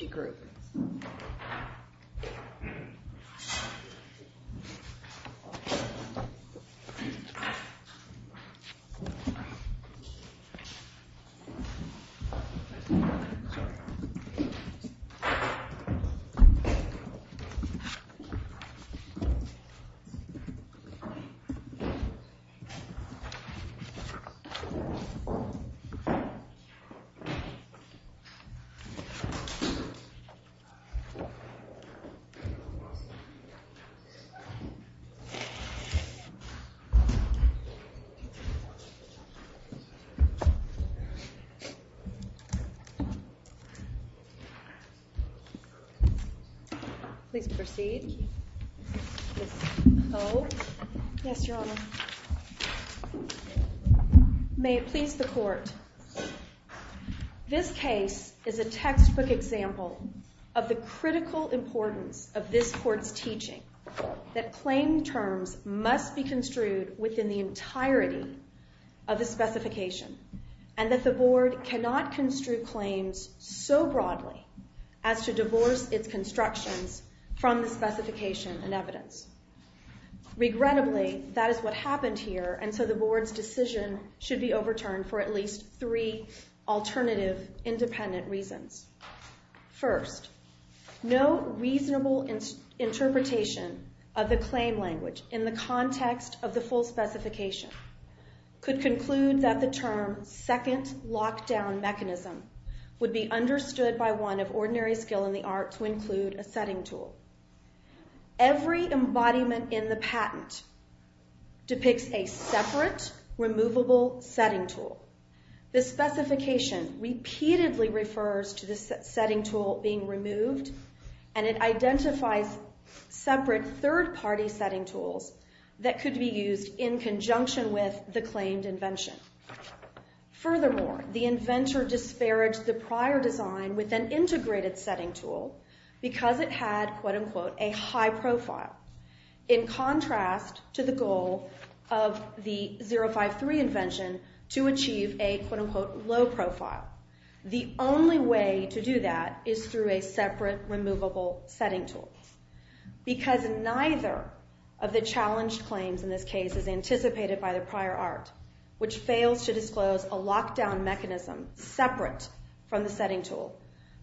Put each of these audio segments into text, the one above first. Energy Group Please proceed, Ms. Poe. Yes, Your Honor. May it please the Court. This case is a textbook example of the critical importance of this Court's teaching that claim terms must be construed within the entirety of the specification, and that the Board cannot construe claims so broadly as to divorce its constructions from the specification and evidence. Regrettably, that is what happened here, and so the Board's decision should be overturned for at least three alternative, independent reasons. First, no reasonable interpretation of the claim language in the context of the full specification could conclude that the term Second Lockdown Mechanism would be understood by one of ordinary skill in the art to include a setting tool. Every embodiment in the patent depicts a separate, removable setting tool. The specification repeatedly refers to the setting tool being removed, and it identifies separate, third-party setting tools that could be used in conjunction with the claimed invention. Furthermore, the inventor disparaged the prior design with an integrated setting tool because it had, quote-unquote, a high profile, in contrast to the goal of the 053 invention to achieve a, quote-unquote, low profile. The only way to do that is through a separate, removable setting tool, because neither of the challenged claims in this case is anticipated by the prior art, which fails to disclose a lockdown mechanism separate from the setting tool.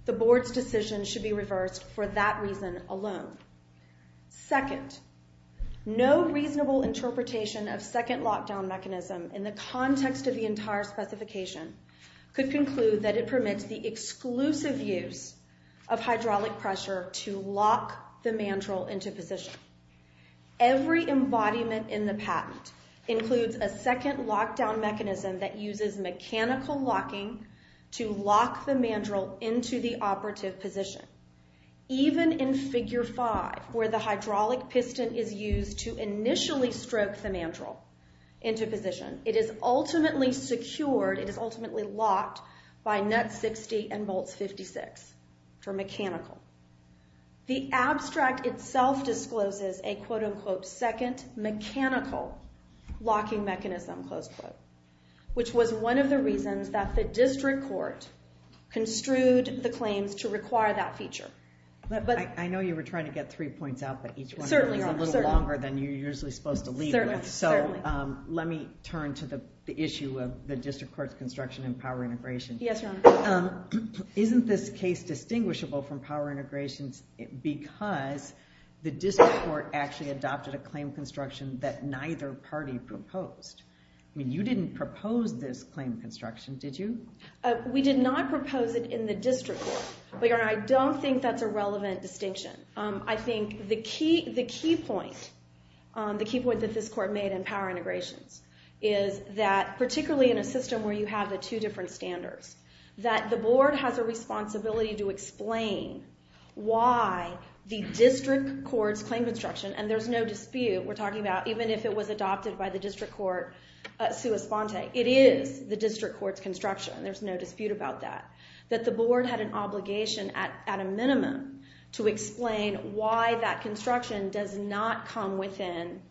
The Board's decision should be reversed for that reason alone. Second, no reasonable interpretation of Second Lockdown Mechanism in the context of the entire specification could conclude that it permits the exclusive use of hydraulic pressure to lock the mandrel into position. Every embodiment in the patent includes a second lockdown mechanism that uses mechanical locking to lock the mandrel into the operative position. Even in Figure 5, where the hydraulic piston is used to initially stroke the mandrel into position, it is ultimately secured, it is ultimately locked by nut 60 and bolts 56 for mechanical. The abstract itself discloses a, quote-unquote, second mechanical locking mechanism, close quote, which was one of the reasons that the district court construed the claims to require that feature. I know you were trying to get three points out, but each one is a little longer than you're usually supposed to lead with. So let me turn to the issue of the district court's construction and power integration. Yes, Your Honor. Isn't this case distinguishable from power integrations because the district court actually adopted a claim construction that neither party proposed? I mean, you didn't propose this claim construction, did you? We did not propose it in the district court, but Your Honor, I don't think that's a relevant distinction. I think the key point that this court made in power integrations is that particularly in a system where you have the two different standards, that the board has a responsibility to explain why the district court's claim construction, and there's no dispute, we're talking about even if it was adopted by the district court sua sponte, it is the district court's construction. There's no dispute about that. That the board had an obligation at a minimum to explain why that construction does not come within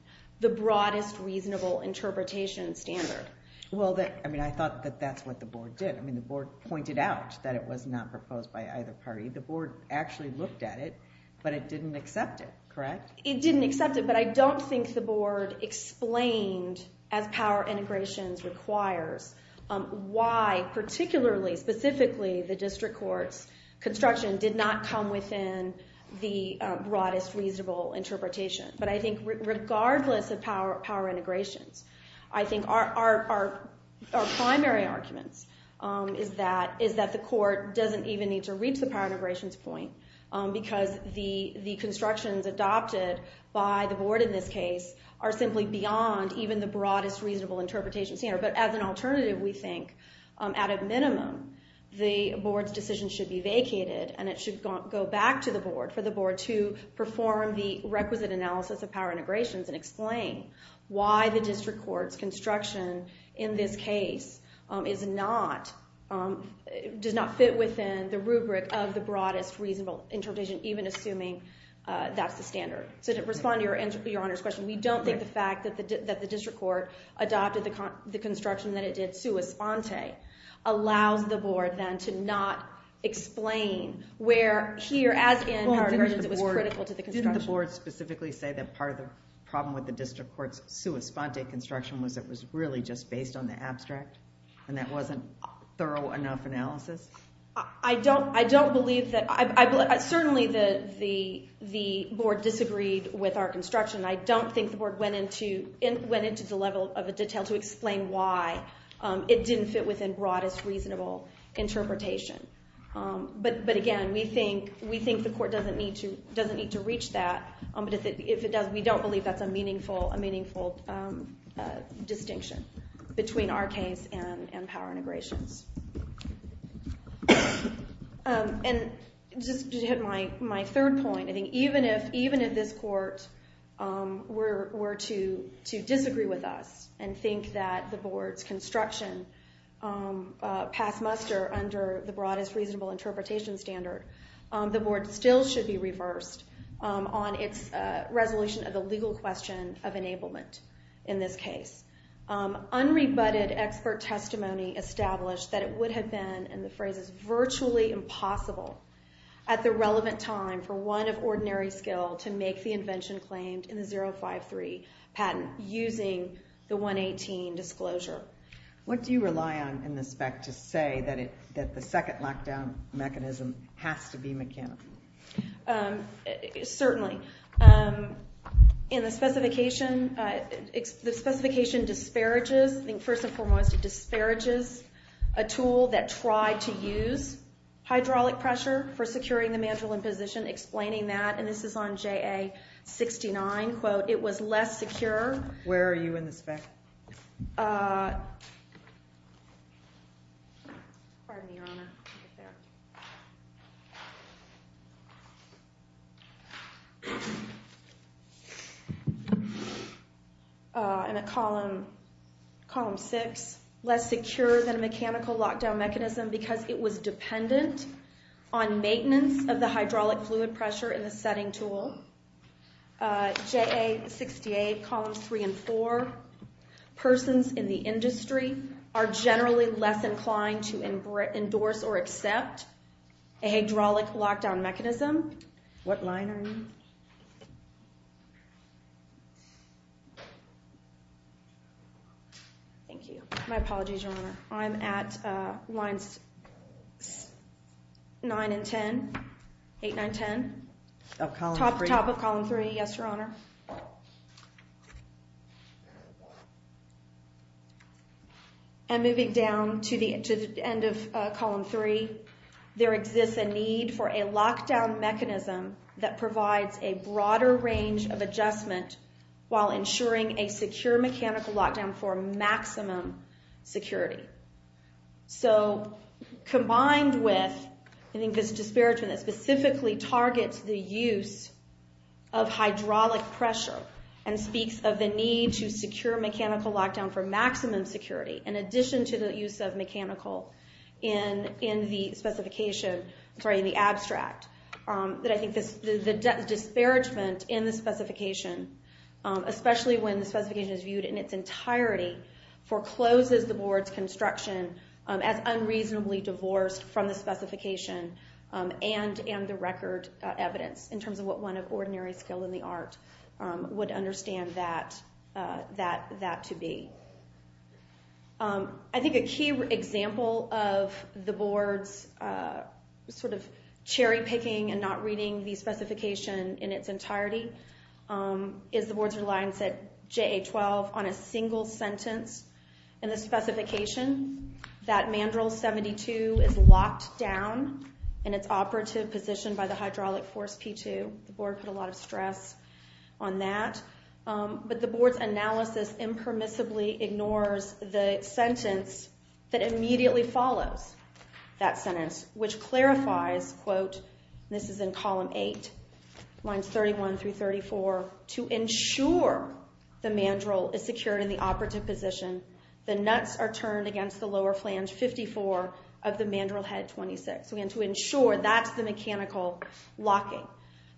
the broadest reasonable interpretation standard. Well, I mean, I thought that that's what the board did. I mean, the board pointed out that it was not proposed by either party. The board actually looked at it, but it didn't accept it, correct? It didn't accept it, but I don't think the board explained, as power integrations requires, why particularly, specifically, the district court's construction did not come within the broadest reasonable interpretation. But I think regardless of power integrations, I think our primary arguments is that the court doesn't even need to reach the power integrations point, because the constructions adopted by the board in this case are simply beyond even the broadest reasonable interpretation standard. But as an alternative, we think at a minimum, the board's decision should be vacated, and it should go back to the board for the board to perform the requisite analysis of power integrations and explain why the district court's construction in this case does not fit within the rubric of the broadest reasonable interpretation, even assuming that's the standard. To respond to Your Honor's question, we don't think the fact that the district court adopted the construction that it did sua sponte allows the board then to not explain where here, as in power integrations, it was critical to the construction. Didn't the board specifically say that part of the problem with the district court's sua sponte construction was it was really just based on the abstract, and that wasn't thorough enough analysis? I don't believe that. Certainly, the board disagreed with our construction. I don't think the board went into the level of detail to explain why it didn't fit within broadest reasonable interpretation. But again, we think the court doesn't need to reach that. We don't believe that's a meaningful distinction between our case and power integrations. And just to hit my third point, I think even if this court were to disagree with us and think that the board's construction passed muster under the broadest reasonable interpretation standard, the board still should be reversed on its resolution of the legal question of enablement in this case. Unrebutted expert testimony established that it would have been, and the phrase is virtually impossible, at the relevant time for one of ordinary skill to make the invention claimed in the 053 patent using the 118 disclosure. What do you rely on in the spec to say that the second lockdown mechanism has to be mechanical? Certainly. In the specification, the specification disparages, I think first and foremost it disparages, a tool that tried to use hydraulic pressure for securing the mandrel in position, explaining that, and this is on JA69, quote, it was less secure. Where are you in the spec? Pardon me, Your Honor. In a column six, less secure than a mechanical lockdown mechanism because it was dependent on maintenance of the hydraulic fluid pressure in the setting tool. JA68, columns three and four, persons in the industry are generally less inclined to endorse or accept a hydraulic lockdown mechanism. What line are you? Thank you. My apologies, Your Honor. I'm at lines nine and ten, eight, nine, ten. Top of column three, yes, Your Honor. And moving down to the end of column three, there exists a need for a lockdown mechanism that provides a broader range of adjustment while ensuring a secure mechanical lockdown for maximum security. So combined with, I think, this disparagement that specifically targets the use of hydraulic pressure and speaks of the need to secure mechanical lockdown for maximum security in addition to the use of mechanical in the specification, sorry, in the abstract, that I think the disparagement in the specification, especially when the specification is viewed in its entirety, forecloses the board's construction as unreasonably divorced from the specification and the record evidence in terms of what one of ordinary skill in the art would understand that to be. I think a key example of the board's sort of cherry picking and not reading the specification in its entirety is the board's reliance at JA-12 on a single sentence in the specification that mandrel 72 is locked down in its operative position by the hydraulic force P2. The board put a lot of stress on that. But the board's analysis impermissibly ignores the sentence that immediately follows that sentence, which clarifies, quote, and this is in column eight, lines 31 through 34, to ensure the mandrel is secured in the operative position, the nuts are turned against the lower flange 54 of the mandrel head 26. Again, to ensure that's the mechanical locking.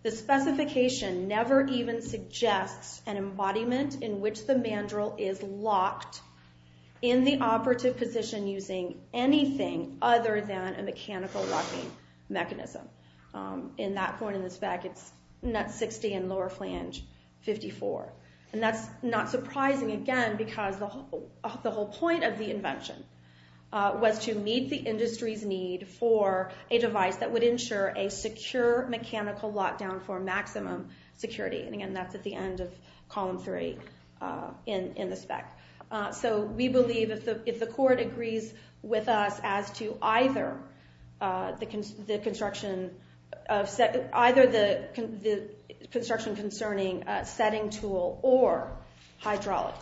The specification never even suggests an embodiment in which the mandrel is locked in the operative position using anything other than a mechanical locking mechanism. In that point in the spec, it's nut 60 and lower flange 54. And that's not surprising, again, because the whole point of the invention was to meet the industry's need for a device that would ensure a secure mechanical lockdown for maximum security. And, again, that's at the end of column three in the spec. So we believe if the court agrees with us as to either the construction concerning a setting tool or hydraulic,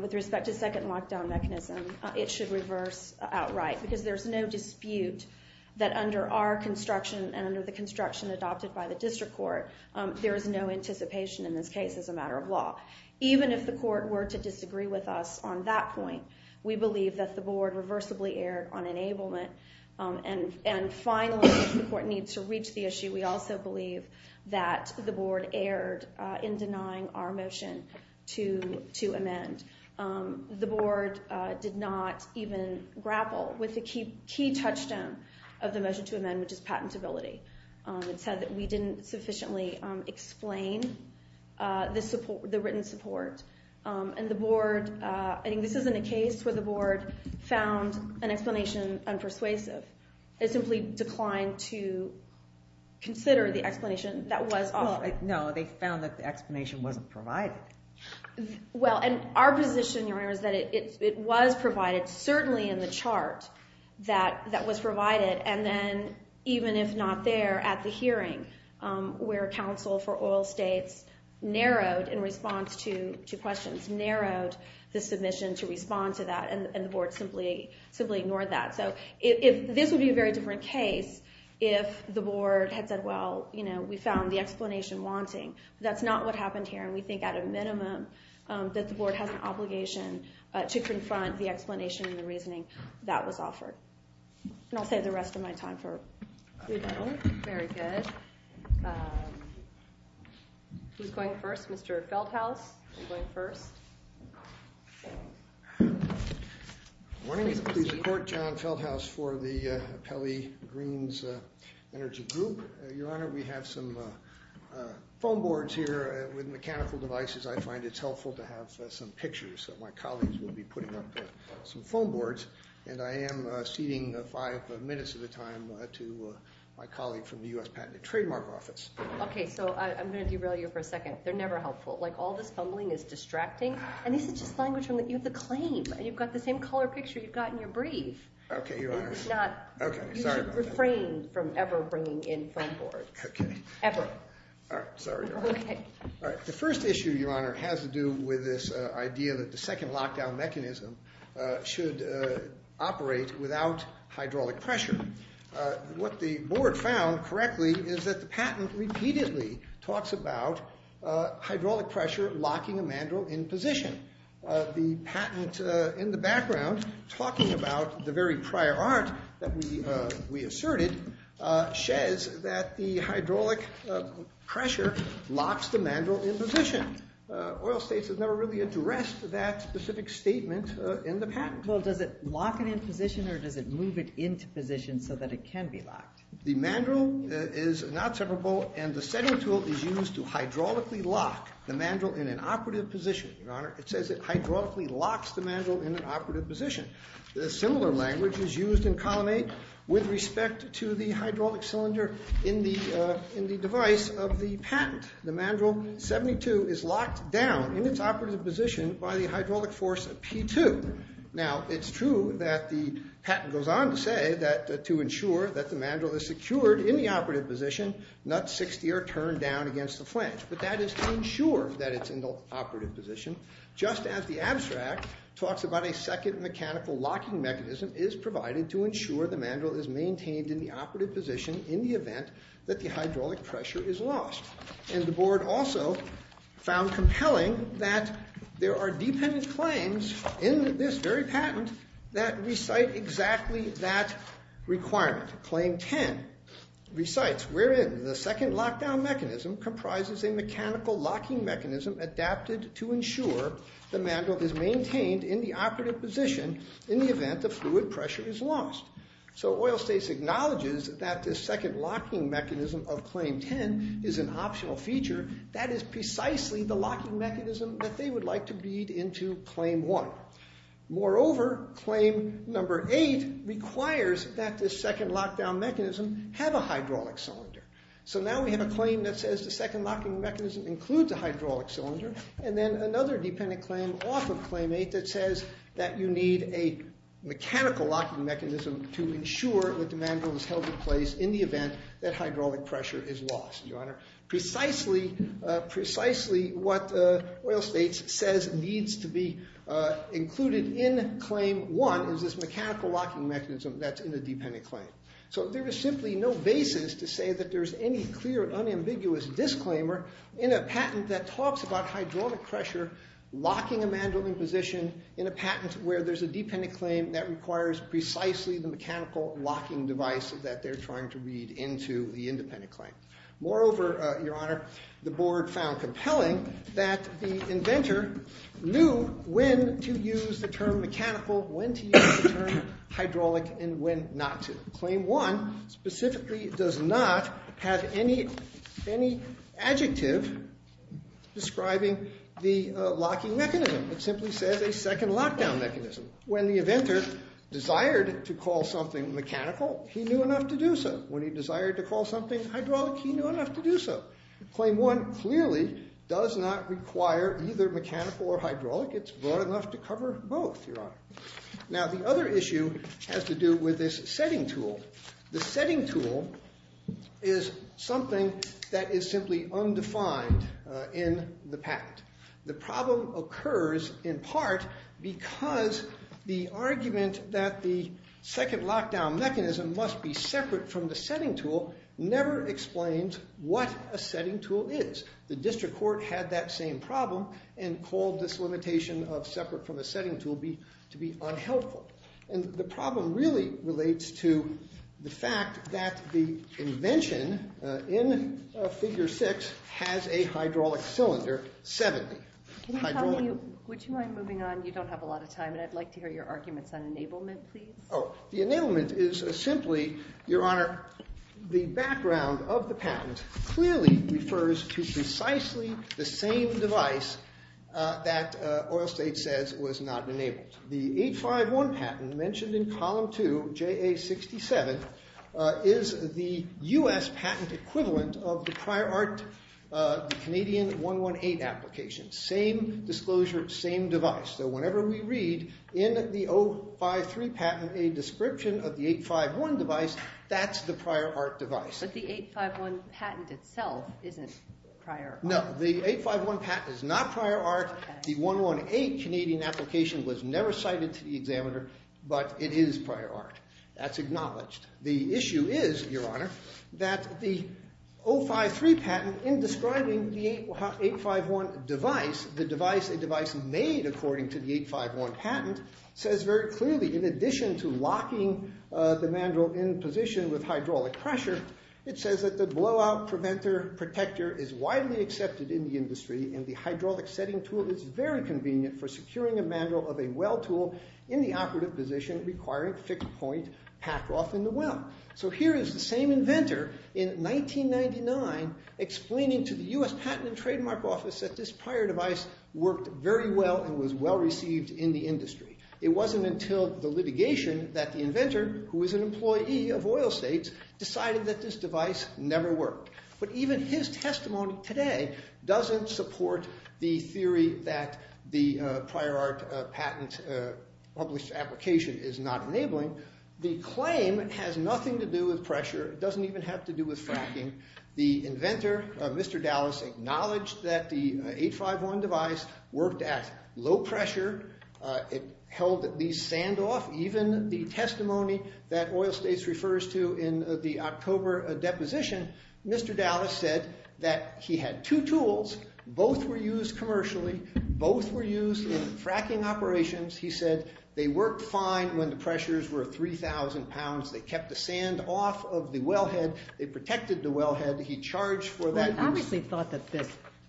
with respect to second lockdown mechanism, it should reverse outright. Because there's no dispute that under our construction and under the construction adopted by the district court, there is no anticipation in this case as a matter of law. Even if the court were to disagree with us on that point, we believe that the board reversibly erred on enablement. And finally, if the court needs to reach the issue, we also believe that the board erred in denying our motion to amend. The board did not even grapple with the key touchstone of the motion to amend, which is patentability. It said that we didn't sufficiently explain the written support. And the board, I think this isn't a case where the board found an explanation unpersuasive. It simply declined to consider the explanation that was offered. Well, no, they found that the explanation wasn't provided. Well, and our position, Your Honor, is that it was provided, certainly in the chart that was provided. And then even if not there at the hearing, where counsel for oil states narrowed in response to questions, narrowed the submission to respond to that, and the board simply ignored that. So this would be a very different case if the board had said, well, you know, we found the explanation wanting. That's not what happened here. And we think at a minimum that the board has an obligation to confront the explanation and the reasoning that was offered. And I'll save the rest of my time for rebuttal. Very good. Who's going first? Mr. Feldhaus, you're going first. Good morning. I'm pleased to report John Feldhaus for the Appellee Greens Energy Group. Your Honor, we have some foam boards here with mechanical devices. I find it's helpful to have some pictures that my colleagues will be putting up, some foam boards. And I am ceding five minutes of the time to my colleague from the U.S. Patent and Trademark Office. Okay, so I'm going to derail you for a second. They're never helpful. Like, all this fumbling is distracting. And this is just language from the claim. And you've got the same color picture you've got in your brief. Okay, Your Honor. It's not. Okay, sorry about that. You should refrain from ever bringing in foam boards. Okay. Ever. All right, sorry, Your Honor. Okay. All right, the first issue, Your Honor, has to do with this idea that the second lockdown mechanism should operate without hydraulic pressure. What the board found, correctly, is that the patent repeatedly talks about hydraulic pressure locking a mandrel in position. The patent in the background, talking about the very prior art that we asserted, says that the hydraulic pressure locks the mandrel in position. Oil States has never really addressed that specific statement in the patent. Well, does it lock it in position, or does it move it into position so that it can be locked? The mandrel is not separable, and the setting tool is used to hydraulically lock the mandrel in an operative position. Your Honor, it says it hydraulically locks the mandrel in an operative position. Similar language is used in Column 8 with respect to the hydraulic cylinder in the device of the patent. The mandrel 72 is locked down in its operative position by the hydraulic force P2. Now, it's true that the patent goes on to say that to ensure that the mandrel is secured in the operative position, nuts 60 are turned down against the flange. But that is to ensure that it's in the operative position, just as the abstract talks about a second mechanical locking mechanism is provided to ensure the mandrel is maintained in the operative position in the event that the hydraulic pressure is lost. And the board also found compelling that there are dependent claims in this very patent that recite exactly that requirement. Claim 10 recites, wherein the second lockdown mechanism comprises a mechanical locking mechanism adapted to ensure the mandrel is maintained in the operative position in the event the fluid pressure is lost. So, Oil States acknowledges that this second locking mechanism of Claim 10 is an optional feature. That is precisely the locking mechanism that they would like to beat into Claim 1. Moreover, Claim number 8 requires that this second lockdown mechanism have a hydraulic cylinder. So, now we have a claim that says the second locking mechanism includes a hydraulic cylinder. And then another dependent claim off of Claim 8 that says that you need a mechanical locking mechanism to ensure that the mandrel is held in place in the event that hydraulic pressure is lost. Precisely what Oil States says needs to be included in Claim 1 is this mechanical locking mechanism that's in the dependent claim. So, there is simply no basis to say that there is any clear unambiguous disclaimer in a patent that talks about hydraulic pressure locking a mandrel in position in a patent where there's a dependent claim that requires precisely the mechanical locking device that they're trying to read into the independent claim. Moreover, Your Honor, the board found compelling that the inventor knew when to use the term mechanical, when to use the term hydraulic, and when not to. Claim 1 specifically does not have any adjective describing the locking mechanism. It simply says a second lockdown mechanism. When the inventor desired to call something mechanical, he knew enough to do so. When he desired to call something hydraulic, he knew enough to do so. It's broad enough to cover both, Your Honor. Now, the other issue has to do with this setting tool. The setting tool is something that is simply undefined in the patent. The problem occurs in part because the argument that the second lockdown mechanism must be separate from the setting tool never explains what a setting tool is. The district court had that same problem and called this limitation of separate from the setting tool to be unhelpful. And the problem really relates to the fact that the invention in Figure 6 has a hydraulic cylinder. Can you tell me, would you mind moving on? You don't have a lot of time, and I'd like to hear your arguments on enablement, please. The enablement is simply, Your Honor, the background of the patent clearly refers to precisely the same device that Oil State says was not enabled. The 851 patent mentioned in Column 2, JA 67, is the U.S. patent equivalent of the prior art Canadian 118 application. Same disclosure, same device. So whenever we read in the 053 patent a description of the 851 device, that's the prior art device. But the 851 patent itself isn't prior art. No, the 851 patent is not prior art. The 118 Canadian application was never cited to the examiner, but it is prior art. That's acknowledged. The issue is, Your Honor, that the 053 patent in describing the 851 device, the device made according to the 851 patent, says very clearly in addition to locking the mandrel in position with hydraulic pressure, it says that the blowout protector is widely accepted in the industry, and the hydraulic setting tool is very convenient for securing a mandrel of a well tool in the operative position requiring fixed point pack off in the well. So here is the same inventor in 1999 explaining to the U.S. Patent and Trademark Office that this prior device worked very well and was well received in the industry. It wasn't until the litigation that the inventor, who is an employee of oil states, decided that this device never worked. But even his testimony today doesn't support the theory that the prior art patent published application is not enabling. The claim has nothing to do with pressure. It doesn't even have to do with fracking. The inventor, Mr. Dallas, acknowledged that the 851 device worked at low pressure. It held the sand off. Even the testimony that oil states refers to in the October deposition, Mr. Dallas said that he had two tools. Both were used commercially. Both were used in fracking operations. He said they worked fine when the pressures were 3,000 pounds. They kept the sand off of the wellhead. They protected the wellhead. He charged for that. He obviously thought that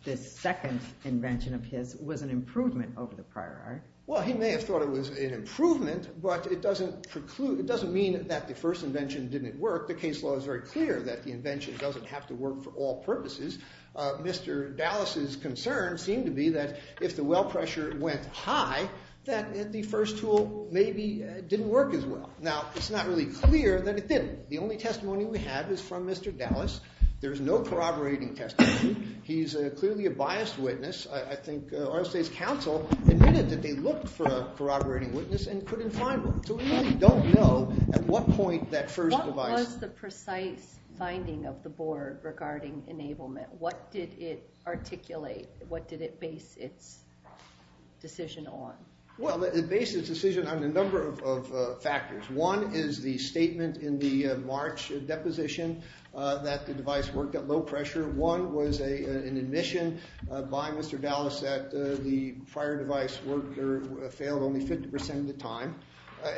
this second invention of his was an improvement over the prior art. Well, he may have thought it was an improvement, but it doesn't mean that the first invention didn't work. The case law is very clear that the invention doesn't have to work for all purposes. Mr. Dallas's concern seemed to be that if the well pressure went high, that the first tool maybe didn't work as well. Now, it's not really clear that it didn't. The only testimony we have is from Mr. Dallas. There's no corroborating testimony. He's clearly a biased witness. I think our state's council admitted that they looked for a corroborating witness and couldn't find one. So we really don't know at what point that first device- What was the precise finding of the board regarding enablement? What did it articulate? What did it base its decision on? Well, it based its decision on a number of factors. One is the statement in the March deposition that the device worked at low pressure. One was an admission by Mr. Dallas that the prior device worked or failed only 50% of the time.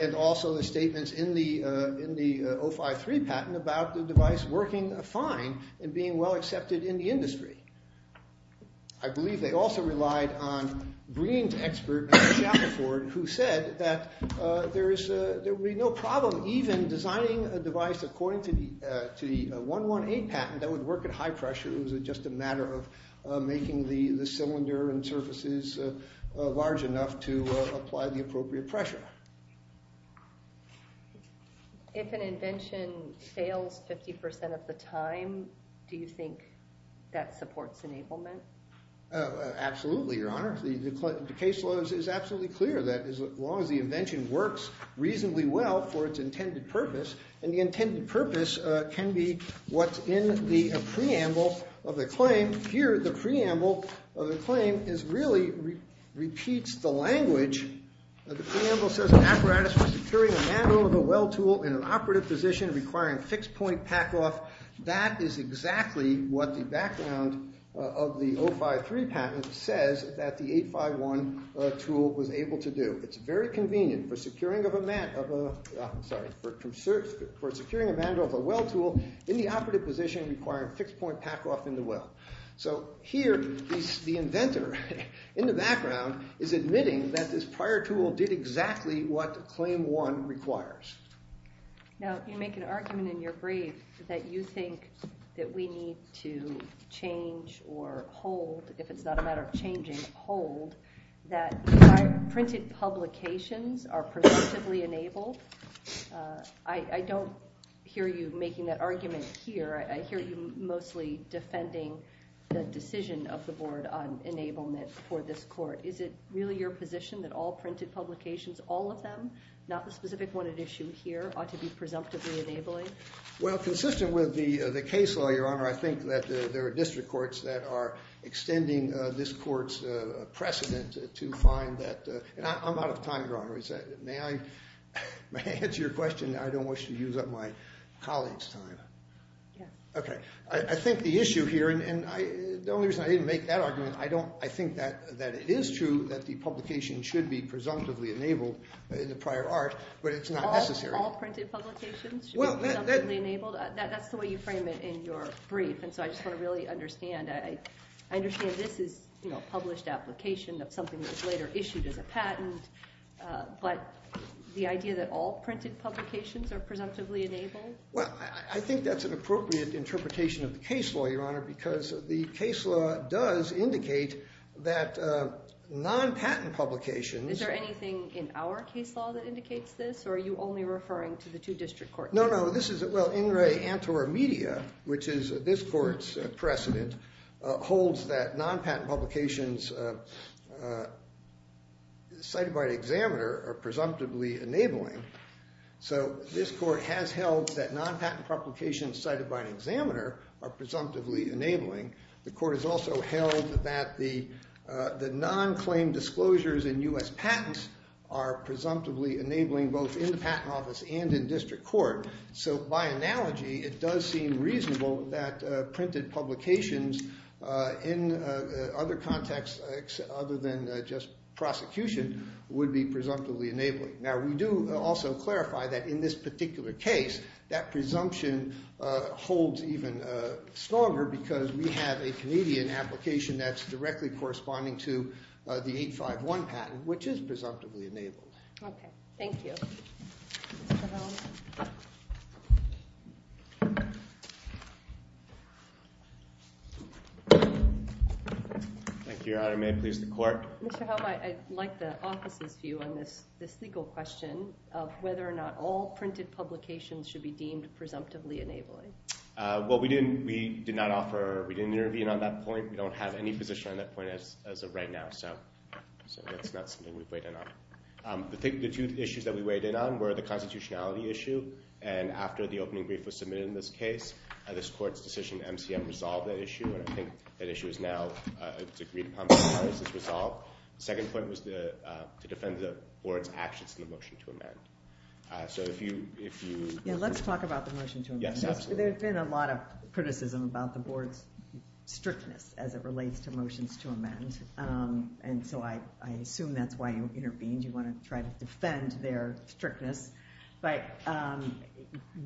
And also the statements in the 053 patent about the device working fine and being well accepted in the industry. I believe they also relied on Green's expert, Mr. Shafferford, who said that there would be no problem even designing a device according to the 118 patent that would work at high pressure. It was just a matter of making the cylinder and surfaces large enough to apply the appropriate pressure. If an invention fails 50% of the time, do you think that supports enablement? Absolutely, Your Honor. The case law is absolutely clear that as long as the invention works reasonably well for its intended purpose, and the intended purpose can be what's in the preamble of the claim. Here, the preamble of the claim really repeats the language. The preamble says an apparatus for securing a mandrel of a well tool in an operative position requiring fixed point pack-off. That is exactly what the background of the 053 patent says that the 851 tool was able to do. It's very convenient for securing a mandrel of a well tool in the operative position requiring fixed point pack-off in the well. So here, the inventor in the background is admitting that this prior tool did exactly what claim one requires. Now, you make an argument in your brief that you think that we need to change or hold, if it's not a matter of changing, hold, that printed publications are perceptively enabled. I don't hear you making that argument here. I hear you mostly defending the decision of the board on enablement for this court. Is it really your position that all printed publications, all of them, not the specific one at issue here, ought to be presumptively enabling? Well, consistent with the case law, Your Honor, I think that there are district courts that are extending this court's precedent to find that. I'm out of time, Your Honor. May I answer your question? I don't wish to use up my colleague's time. Okay. I think the issue here, and the only reason I didn't make that argument, I think that it is true that the publication should be presumptively enabled in the prior art, but it's not necessary. All printed publications should be presumptively enabled? That's the way you frame it in your brief, and so I just want to really understand. I understand this is a published application of something that was later issued as a patent, but the idea that all printed publications are presumptively enabled? Well, I think that's an appropriate interpretation of the case law, Your Honor, because the case law does indicate that non-patent publications— Is there anything in our case law that indicates this, or are you only referring to the two district courts? No, no. This is, well, In Re Antorum Media, which is this court's precedent, holds that non-patent publications cited by an examiner are presumptively enabling. So this court has held that non-patent publications cited by an examiner are presumptively enabling. The court has also held that the non-claimed disclosures in U.S. patents are presumptively enabling both in the patent office and in district court. So by analogy, it does seem reasonable that printed publications in other contexts other than just prosecution would be presumptively enabling. Now, we do also clarify that in this particular case, that presumption holds even stronger because we have a Canadian application that's directly corresponding to the 851 patent, which is presumptively enabling. Okay. Thank you. Thank you, Your Honor. May it please the court? Mr. Helm, I'd like the office's view on this legal question of whether or not all printed publications should be deemed presumptively enabling. Well, we did not offer—we didn't interview on that point. We don't have any position on that point as of right now. So that's not something we've weighed in on. The two issues that we weighed in on were the constitutionality issue, and after the opening brief was submitted in this case, this court's decision, MCM, resolved that issue. And I think that issue is now—it's agreed upon by Congress. It's resolved. The second point was to defend the board's actions in the motion to amend. So if you— Yeah, let's talk about the motion to amend. There's been a lot of criticism about the board's strictness as it relates to motions to amend. And so I assume that's why you intervened. You want to try to defend their strictness. But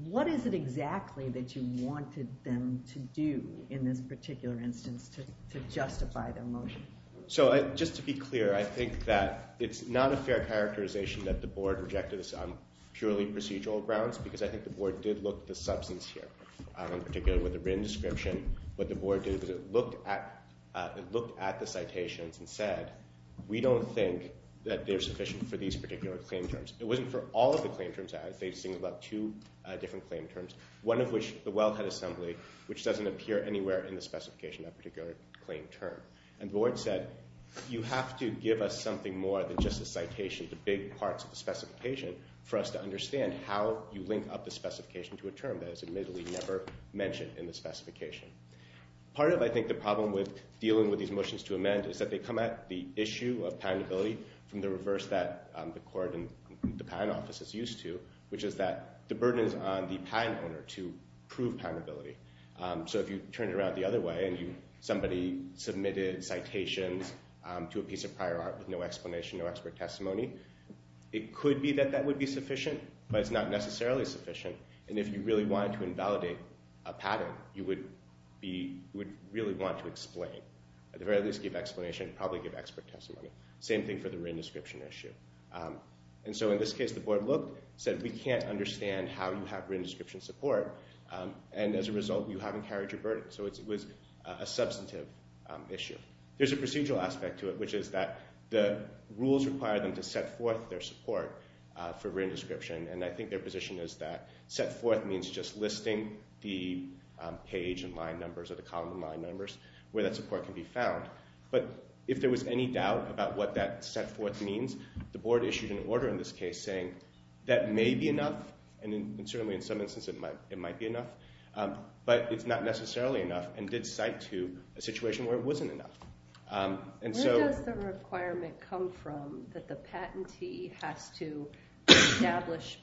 what is it exactly that you wanted them to do in this particular instance to justify the motion? So just to be clear, I think that it's not a fair characterization that the board rejected this on purely procedural grounds because I think the board did look at the substance here, in particular with the written description. What the board did was it looked at the citations and said, we don't think that they're sufficient for these particular claim terms. It wasn't for all of the claim terms. I think it was about two different claim terms, one of which, the wellhead assembly, which doesn't appear anywhere in the specification of a particular claim term. And the board said, you have to give us something more than just a citation, the big parts of the specification, for us to understand how you link up the specification to a term that is admittedly never mentioned in the specification. Part of, I think, the problem with dealing with these motions to amend is that they come at the issue of patentability from the reverse that the court and the patent office is used to, which is that the burden is on the patent owner to prove patentability. So if you turn it around the other way and somebody submitted citations to a piece of prior art with no explanation, no expert testimony, it could be that that would be sufficient, but it's not necessarily sufficient. And if you really wanted to invalidate a pattern, you would really want to explain. At the very least, give explanation, probably give expert testimony. Same thing for the written description issue. And so in this case, the board looked, said, we can't understand how you have written description support, and as a result, you haven't carried your burden. So it was a substantive issue. There's a procedural aspect to it, which is that the rules require them to set forth their support for written description, and I think their position is that set forth means just listing the page and line numbers or the column and line numbers where that support can be found. But if there was any doubt about what that set forth means, the board issued an order in this case saying that may be enough, and certainly in some instances it might be enough, but it's not necessarily enough and did cite to a situation where it wasn't enough. Where does the requirement come from that the patentee has to establish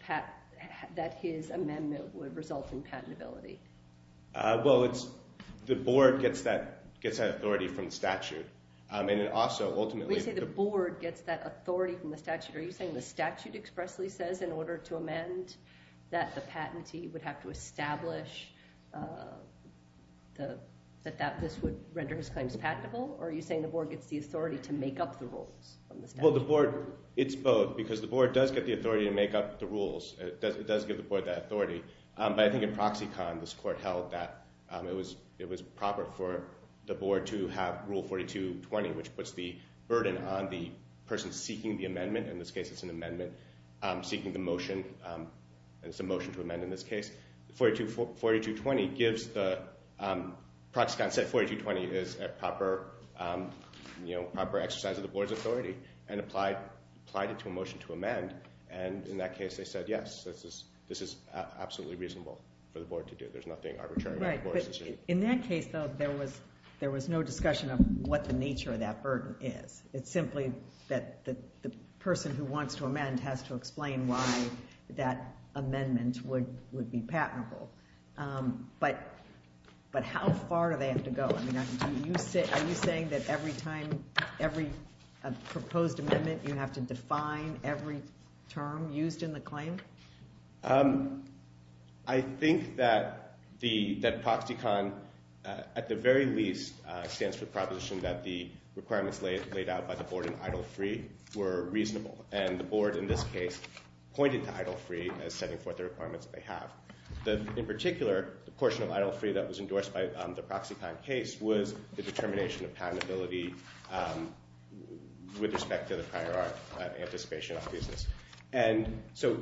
that his amendment would result in patentability? Well, it's the board gets that authority from the statute. We say the board gets that authority from the statute. Are you saying the statute expressly says in order to amend that the patentee would have to establish that this would render his claims patentable, or are you saying the board gets the authority to make up the rules from the statute? Well, the board, it's both, because the board does get the authority to make up the rules. It does give the board that authority. But I think in proxy con, this court held that it was proper for the board to have Rule 4220, which puts the burden on the person seeking the amendment. In this case, it's an amendment seeking the motion, and it's a motion to amend in this case. 4220 gives the proxy con set 4220 is a proper exercise of the board's authority and applied it to a motion to amend, and in that case they said, yes, this is absolutely reasonable for the board to do. There's nothing arbitrary about the board's decision. In that case, though, there was no discussion of what the nature of that burden is. It's simply that the person who wants to amend has to explain why that amendment would be patentable. But how far do they have to go? I mean, are you saying that every time, every proposed amendment, you have to define every term used in the claim? I think that proxy con, at the very least, stands for proposition that the requirements laid out by the board in idle free were reasonable. And the board, in this case, pointed to idle free as setting forth the requirements they have. In particular, the portion of idle free that was endorsed by the proxy con case was the determination of patentability with respect to the prior art of anticipation of business. And so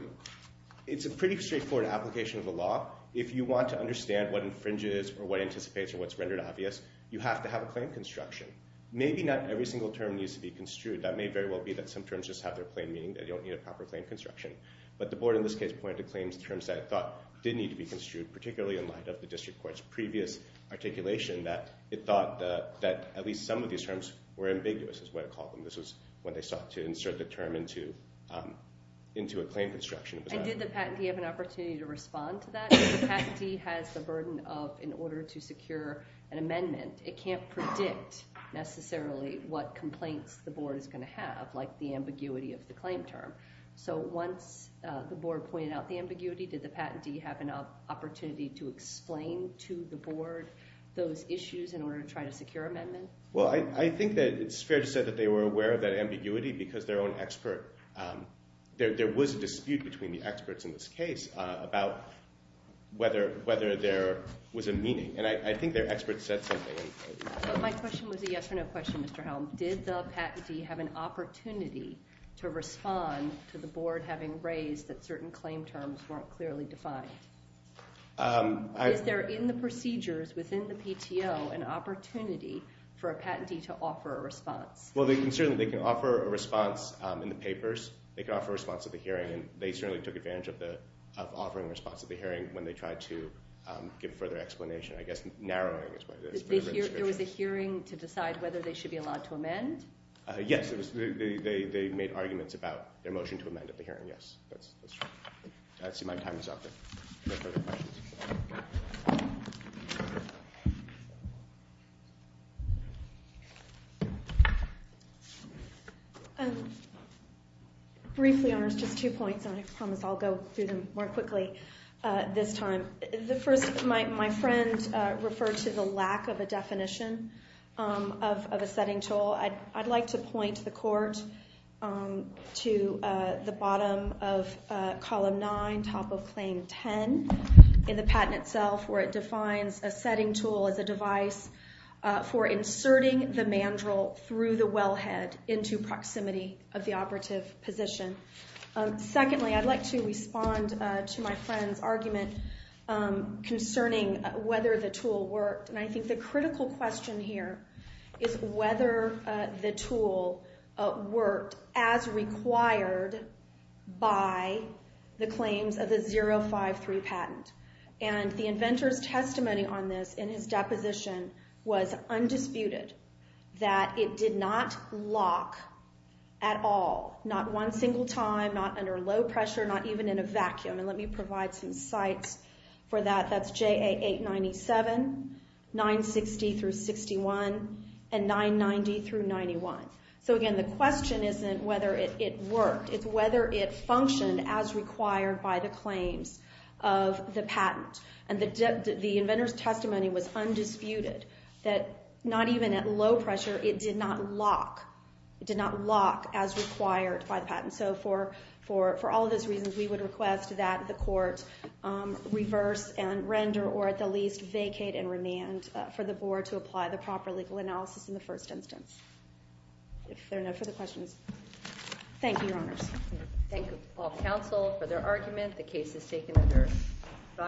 it's a pretty straightforward application of the law. If you want to understand what infringes or what anticipates or what's rendered obvious, you have to have a claim construction. Maybe not every single term needs to be construed. That may very well be that some terms just have their plain meaning. They don't need a proper claim construction. But the board, in this case, pointed to claims in terms that it thought did need to be construed, particularly in light of the district court's previous articulation that it thought that at least some of these terms were ambiguous is what it called them. This was when they sought to insert the term into a claim construction. And did the patentee have an opportunity to respond to that? If the patentee has the burden of in order to secure an amendment, it can't predict necessarily what complaints the board is going to have, like the ambiguity of the claim term. So once the board pointed out the ambiguity, did the patentee have an opportunity to explain to the board those issues in order to try to secure amendment? Well, I think that it's fair to say that they were aware of that ambiguity because their own expert – there was a dispute between the experts in this case about whether there was a meaning. And I think their experts said something. But my question was a yes or no question, Mr. Helm. Did the patentee have an opportunity to respond to the board having raised that certain claim terms weren't clearly defined? Is there in the procedures within the PTO an opportunity for a patentee to offer a response? Well, certainly they can offer a response in the papers. They can offer a response at the hearing. And they certainly took advantage of offering a response at the hearing when they tried to give further explanation. I guess narrowing is part of it. There was a hearing to decide whether they should be allowed to amend? Yes. They made arguments about their motion to amend at the hearing, yes. I see my time is up. Briefly, Your Honors, just two points, and I promise I'll go through them more quickly this time. The first, my friend referred to the lack of a definition of a setting toll. I'd like to point the Court to the bottom of Column 9, top of Claim 10, in the patent itself, where it defines a setting toll as a device for inserting the mandrel through the wellhead into proximity of the operative position. Secondly, I'd like to respond to my friend's argument concerning whether the toll worked. And I think the critical question here is whether the toll worked as required by the claims of the 053 patent. And the inventor's testimony on this in his deposition was undisputed, that it did not lock at all, not one single time, not under low pressure, not even in a vacuum. And let me provide some sites for that. That's JA 897, 960 through 61, and 990 through 91. So again, the question isn't whether it worked. It's whether it functioned as required by the claims of the patent. And the inventor's testimony was undisputed, that not even at low pressure, it did not lock. And so for all of those reasons, we would request that the court reverse and render, or at the least vacate and remand, for the board to apply the proper legal analysis in the first instance. If there are no further questions. Thank you, Your Honors. Thank you, all counsel, for their argument. The case is taken under fire.